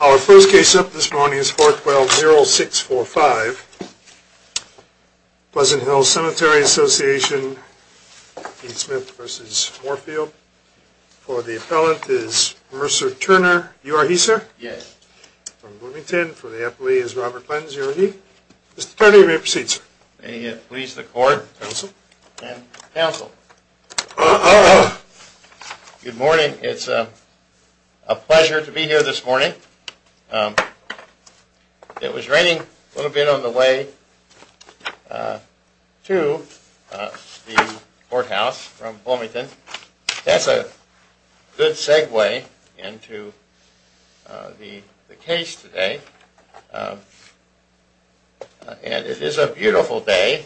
Our first case up this morning is 412-0645, Pleasant Hill Cemetery Association, Keith Smith v. Morefield. For the appellant is Mercer Turner. You are he, sir? Yes. From Bloomington, for the appellee is Robert Clentons. You are he? Mr. Turner, you may proceed, sir. May it please the court. Counsel. And counsel. Good morning. It's a pleasure to be here this morning. It was raining a little bit on the way to the courthouse from Bloomington. That's a good segue into the case today. And it is a beautiful day,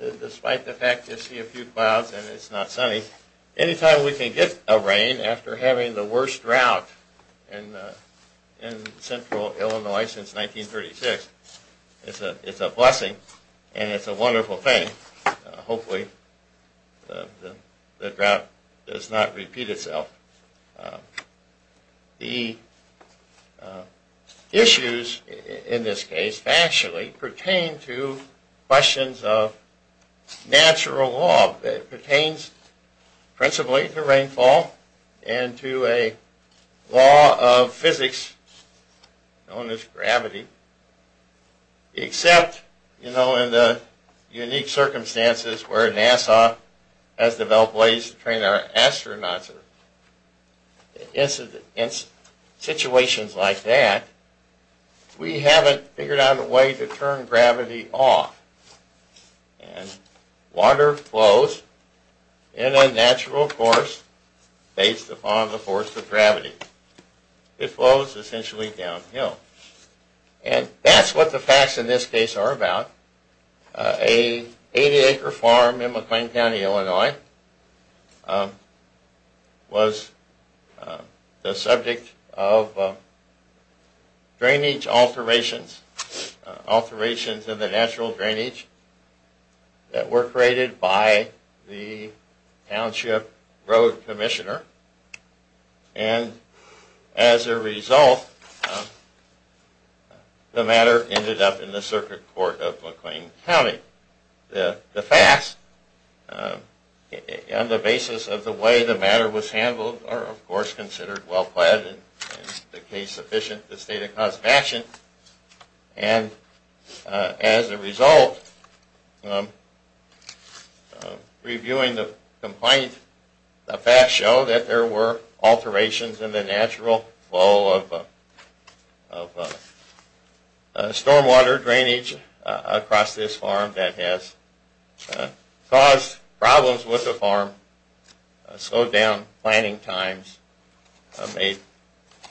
despite the fact you see a few clouds and it's not sunny. Anytime we can get a rain after having the worst drought in central Illinois since 1936, it's a blessing and it's a wonderful thing. Hopefully the drought does not repeat itself. The issues in this case actually pertain to questions of natural law. It pertains principally to rainfall and to a law of physics known as gravity, except, you know, in the unique circumstances where NASA has developed ways to train our astronauts. In situations like that, we haven't figured out a way to turn gravity off. And water flows in a natural course based upon the force of gravity. It flows essentially downhill. And that's what the facts in this case are about. A 80 acre farm in McLean County, Illinois, was the subject of drainage alterations. Alterations in the natural drainage that were created by the Township Road Commissioner. And as a result, the matter ended up in the Circuit Court of McLean County. The facts, on the basis of the way the matter was handled, are of course considered well-planned and the case sufficient to state a cause of action. And as a result, reviewing the complaint, the facts show that there were alterations in the natural flow of stormwater drainage across this farm that has caused problems with the farm, slowed down planting times, made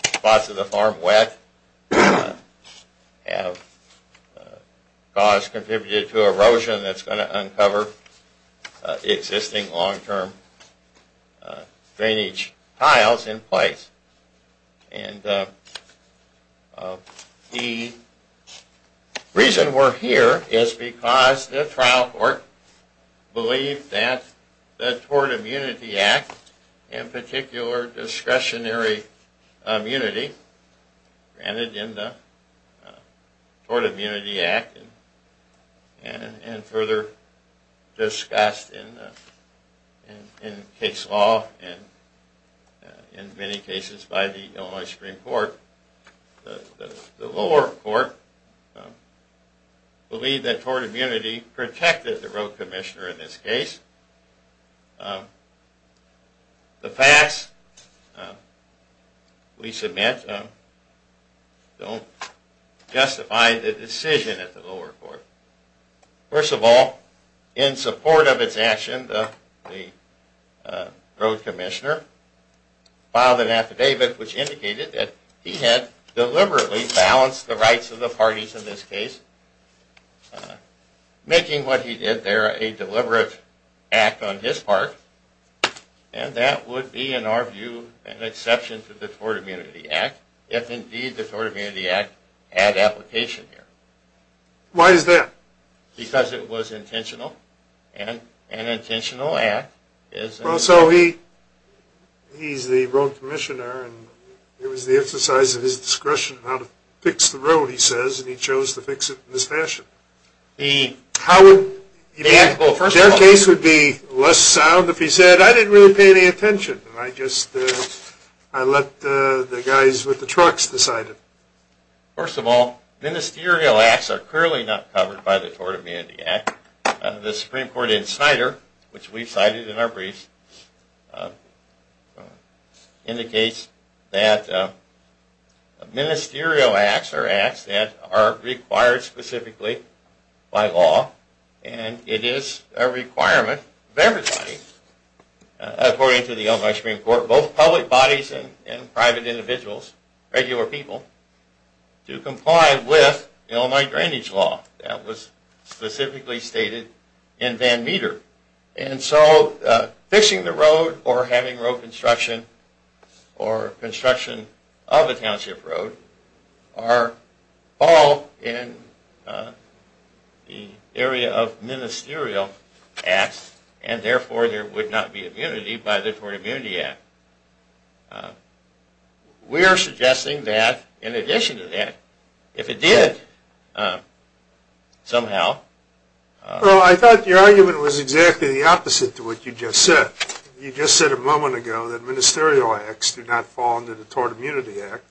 spots of the farm wet, have caused, contributed to erosion that's going to uncover existing long-term drainage tiles in place. And the reason we're here is because the trial court believed that the Tort Immunity Act, in particular discretionary immunity granted in the Tort Immunity Act and further discussed in case law and in many cases by the Illinois Supreme Court, the lower court believed that Tort Immunity protected the road commissioner in this case. The facts we submit don't justify the decision of the lower court. First of all, in support of its action, the road commissioner filed an affidavit which indicated that he had deliberately balanced the rights of the parties in this case, making what he did there a deliberate act on his part, and that would be in our view an exception to the Tort Immunity Act, if indeed the Tort Immunity Act had application here. Why is that? Because it was intentional, and an intentional act is... Well, so he's the road commissioner, and it was the exercise of his discretion on how to fix the road, he says, and he chose to fix it in this fashion. The case would be less sound if he said, I didn't really pay any attention, I just let the guys with the trucks decide it. First of all, ministerial acts are clearly not covered by the Tort Immunity Act. The Supreme Court insider, which we cited in our brief, indicates that ministerial acts are acts that are required specifically by law, and it is a requirement of everybody. According to the Illinois Supreme Court, both public bodies and private individuals, regular people, do comply with Illinois drainage law that was specifically stated in Van Meter. And so, fixing the road, or having road construction, or construction of a township road, are all in the area of ministerial acts, and therefore there would not be immunity by the Tort Immunity Act. We are suggesting that, in addition to that, if it did, somehow... Well, I thought your argument was exactly the opposite to what you just said. You just said a moment ago that ministerial acts do not fall under the Tort Immunity Act,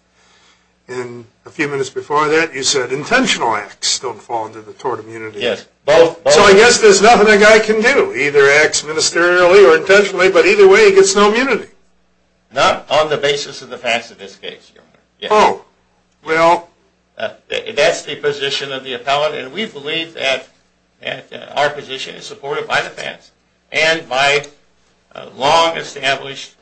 and a few minutes before that you said intentional acts don't fall under the Tort Immunity Act. Yes, both. So I guess there's nothing a guy can do, either acts ministerially or intentionally, but either way he gets no immunity. Not on the basis of the facts of this case, Your Honor. Oh, well... That's the position of the appellate, and we believe that our position is supported by the facts, and by long-established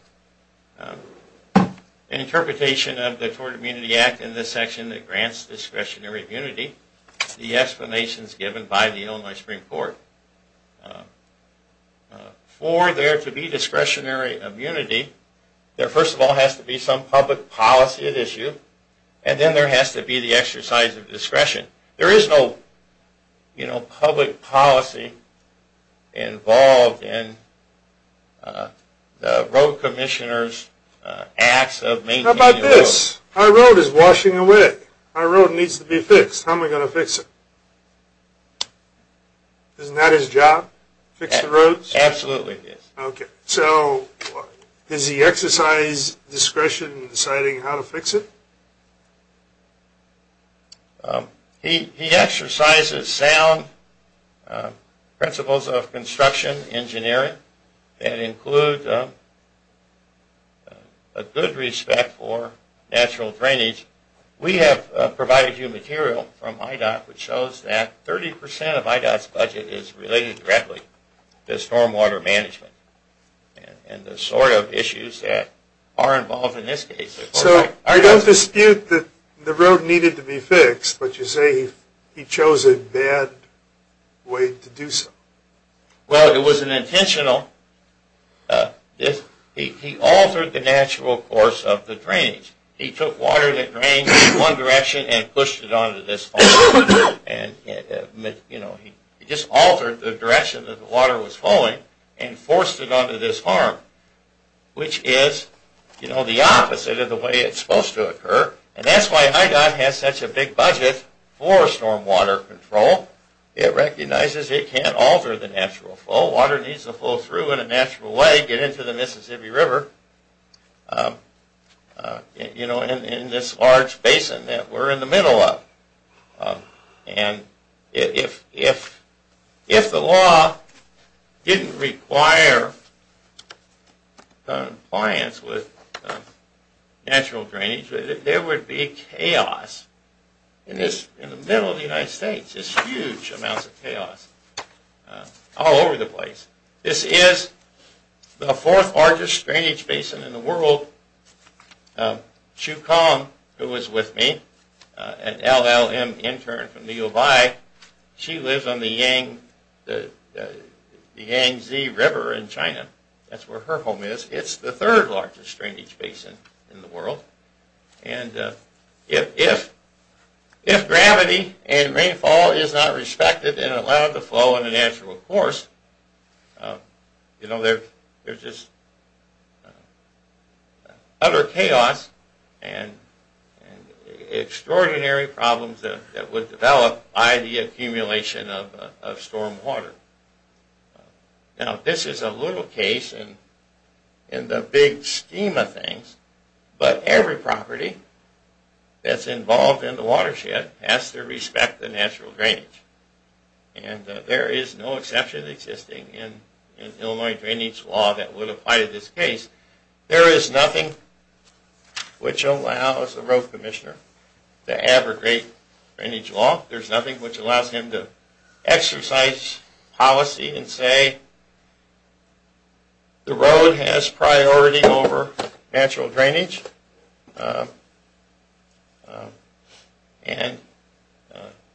interpretation of the Tort Immunity Act in this section that grants discretionary immunity, the explanations given by the Illinois Supreme Court. For there to be discretionary immunity, there first of all has to be some public policy at issue, and then there has to be the exercise of discretion. There is no public policy involved in the road commissioner's acts of maintaining the road. How about this? Our road is washing away. Our road needs to be fixed. How am I going to fix it? Isn't that his job? Fix the roads? Absolutely, yes. Okay. So does he exercise discretion in deciding how to fix it? He exercises sound principles of construction engineering that include a good respect for natural drainage. We have provided you material from IDOT which shows that 30% of IDOT's budget is related directly to stormwater management and the sort of issues that are involved in this case. So I don't dispute that the road needed to be fixed, but you say he chose a bad way to do so. Well, it was an intentional... He altered the natural course of the drainage. He took water that drained in one direction and pushed it onto this farm. He just altered the direction that the water was flowing and forced it onto this farm, which is the opposite of the way it's supposed to occur. And that's why IDOT has such a big budget for stormwater control. It recognizes it can't alter the natural flow. Water needs to flow through in a natural way, get into the Mississippi River, you know, in this large basin that we're in the middle of. And if the law didn't require compliance with natural drainage, there would be chaos in the middle of the United States. There's huge amounts of chaos all over the place. This is the fourth largest drainage basin in the world. Chu Kang, who is with me, an LLM intern from the U of I, she lives on the Yangtze River in China. That's where her home is. It's the third largest drainage basin in the world. And if gravity and rainfall is not respected and allowed to flow in a natural course, you know, there's just utter chaos and extraordinary problems that would develop by the accumulation of stormwater. Now, this is a little case in the big scheme of things, but every property that's involved in the watershed has to respect the natural drainage. And there is no exception existing in Illinois drainage law that would apply to this case. There is nothing which allows a road commissioner to abrogate drainage law. There's nothing which allows him to exercise policy and say the road has priority over natural drainage. And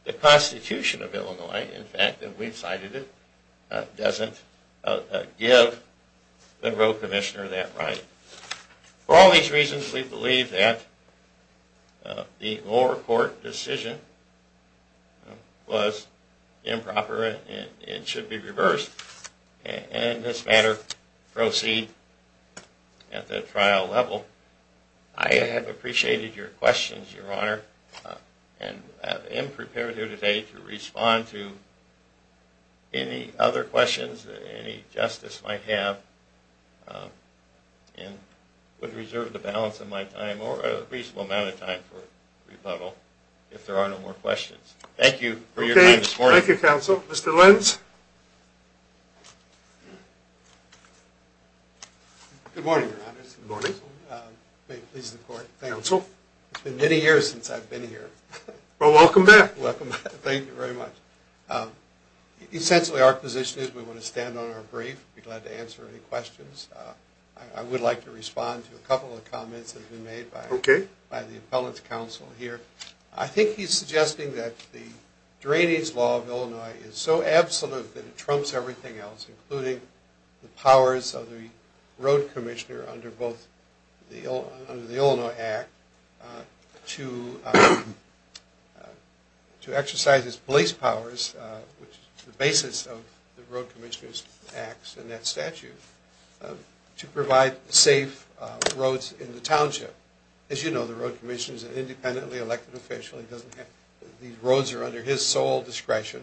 the Constitution of Illinois, in fact, and we've cited it, doesn't give the road commissioner that right. For all these reasons, we believe that the lower court decision was improper and it should be reversed and this matter proceed at the trial level. I have appreciated your questions, Your Honor, and am prepared here today to respond to any other questions that any justice might have. And would reserve the balance of my time or a reasonable amount of time for rebuttal if there are no more questions. Thank you for your time this morning. Okay. Thank you, counsel. Mr. Lentz? Good morning, Your Honor. May it please the court. Thank you. Counsel? It's been many years since I've been here. Well, welcome back. Welcome back. Thank you very much. Essentially, our position is we want to stand on our brief. Be glad to answer any questions. I would like to respond to a couple of comments that have been made by the appellant's counsel here. I think he's suggesting that the drainage law of Illinois is so absolute that it trumps everything else, including the powers of the road commissioner under the Illinois Act to exercise his police powers, which is the basis of the road commissioner's acts in that statute, to provide safe roads in the township. As you know, the road commissioner is an independently elected official. These roads are under his sole discretion.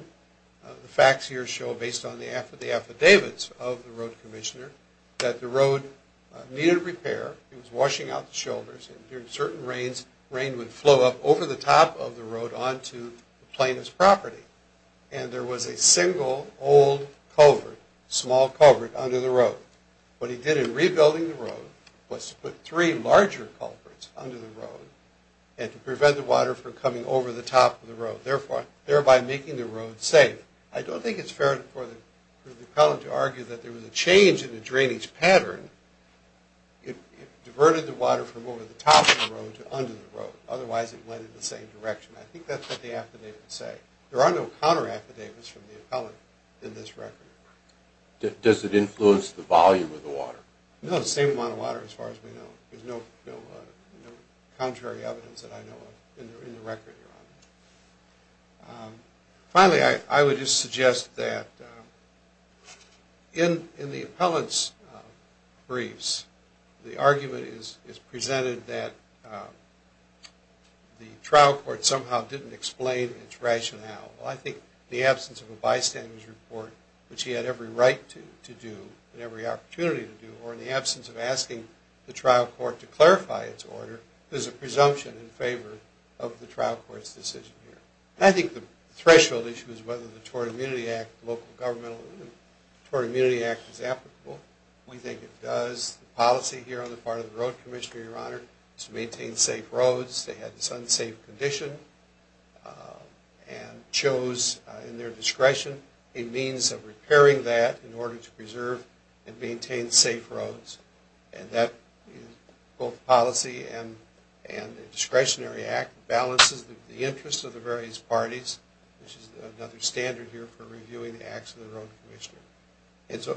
The facts here show, based on the affidavits of the road commissioner, that the road needed repair. He was washing out the shoulders. During certain rains, rain would flow up over the top of the road onto the plaintiff's property. And there was a single old culvert, small culvert, under the road. What he did in rebuilding the road was to put three larger culverts under the road and to prevent the water from coming over the top of the road, thereby making the road safe. I don't think it's fair for the appellant to argue that there was a change in the drainage pattern. It diverted the water from over the top of the road to under the road. Otherwise, it went in the same direction. I think that's what the affidavits say. There are no counter-affidavits from the appellant in this record. Does it influence the volume of the water? No, the same amount of water as far as we know. There's no contrary evidence that I know of in the record. Finally, I would just suggest that in the appellant's briefs, the argument is presented that the trial court somehow didn't explain its rationale. I think in the absence of a bystander's report, which he had every right to do and every opportunity to do, or in the absence of asking the trial court to clarify its order, there's a presumption in favor of the trial court's decision here. I think the threshold issue is whether the Tort Immunity Act is applicable. We think it does. The policy here on the part of the Road Commissioner, Your Honor, is to maintain safe roads. They had this unsafe condition and chose, in their discretion, a means of repairing that in order to preserve and maintain safe roads. Both the policy and the discretionary act balances the interests of the various parties, which is another standard here for reviewing the acts of the Road Commissioner.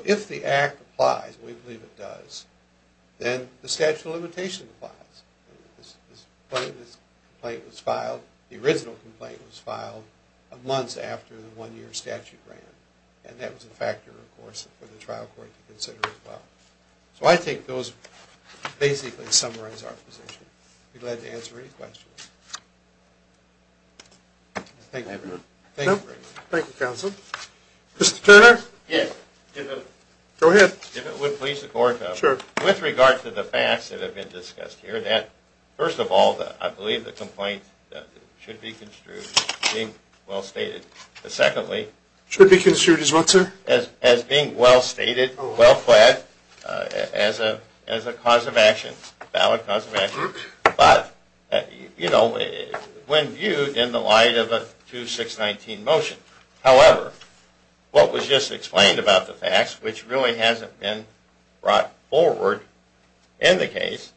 If the act applies, and we believe it does, then the statute of limitations applies. The original complaint was filed months after the one-year statute ran, and that was a factor, of course, for the trial court to consider as well. So I think those basically summarize our position. I'd be glad to answer any questions. Thank you. Thank you, counsel. Mr. Turner? Yes. Go ahead. If it would please the Court, though. Sure. With regard to the facts that have been discussed here, that, first of all, I believe the complaint should be construed as being well stated. Secondly, Should be construed as what, sir? As being well stated, well flagged, as a cause of action, valid cause of action, but, you know, when viewed in the light of a 2-6-19 motion. However, what was just explained about the facts, which really hasn't been brought forward in the case,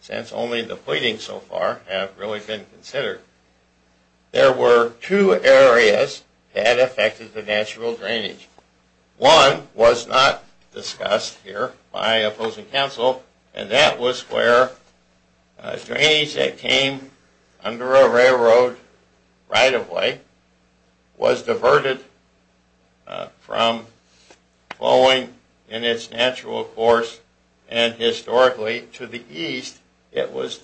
since only the pleadings so far have really been considered, there were two areas that affected the natural drainage. One was not discussed here by opposing counsel, and that was where drainage that came under a railroad right-of-way was diverted from flowing in its natural course, and historically to the east, it was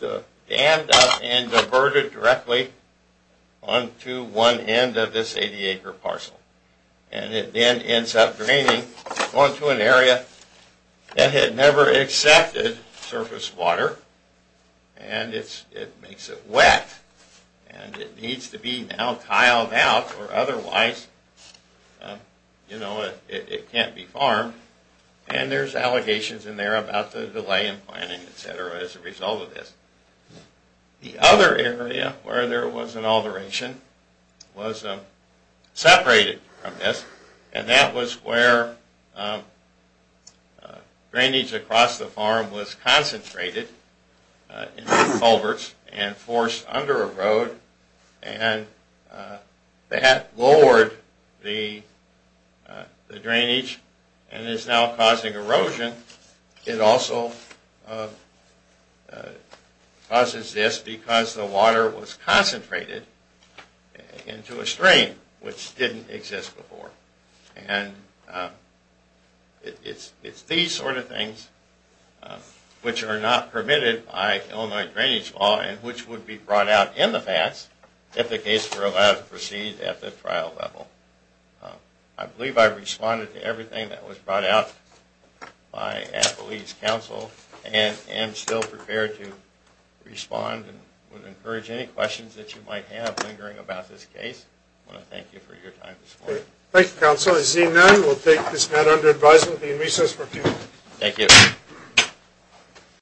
dammed up and diverted directly onto one end of this 80-acre parcel. And it then ends up draining onto an area that had never accepted surface water, and it makes it wet, and it needs to be now tiled out, or otherwise, you know, it can't be farmed. And there's allegations in there about the delay in planning, etc., as a result of this. The other area where there was an alteration was separated from this, and that was where drainage across the farm was concentrated into culverts and forced under a road, and that lowered the drainage and is now causing erosion. And it also causes this because the water was concentrated into a stream which didn't exist before. And it's these sort of things which are not permitted by Illinois drainage law and which would be brought out in the past if the case were allowed to proceed at the trial level. I believe I've responded to everything that was brought out by Appalachian Council and am still prepared to respond and would encourage any questions that you might have lingering about this case. I want to thank you for your time this morning. Thank you, Counsel. As seen then, we'll take this matter under advisement and be in recess for a few minutes. Thank you.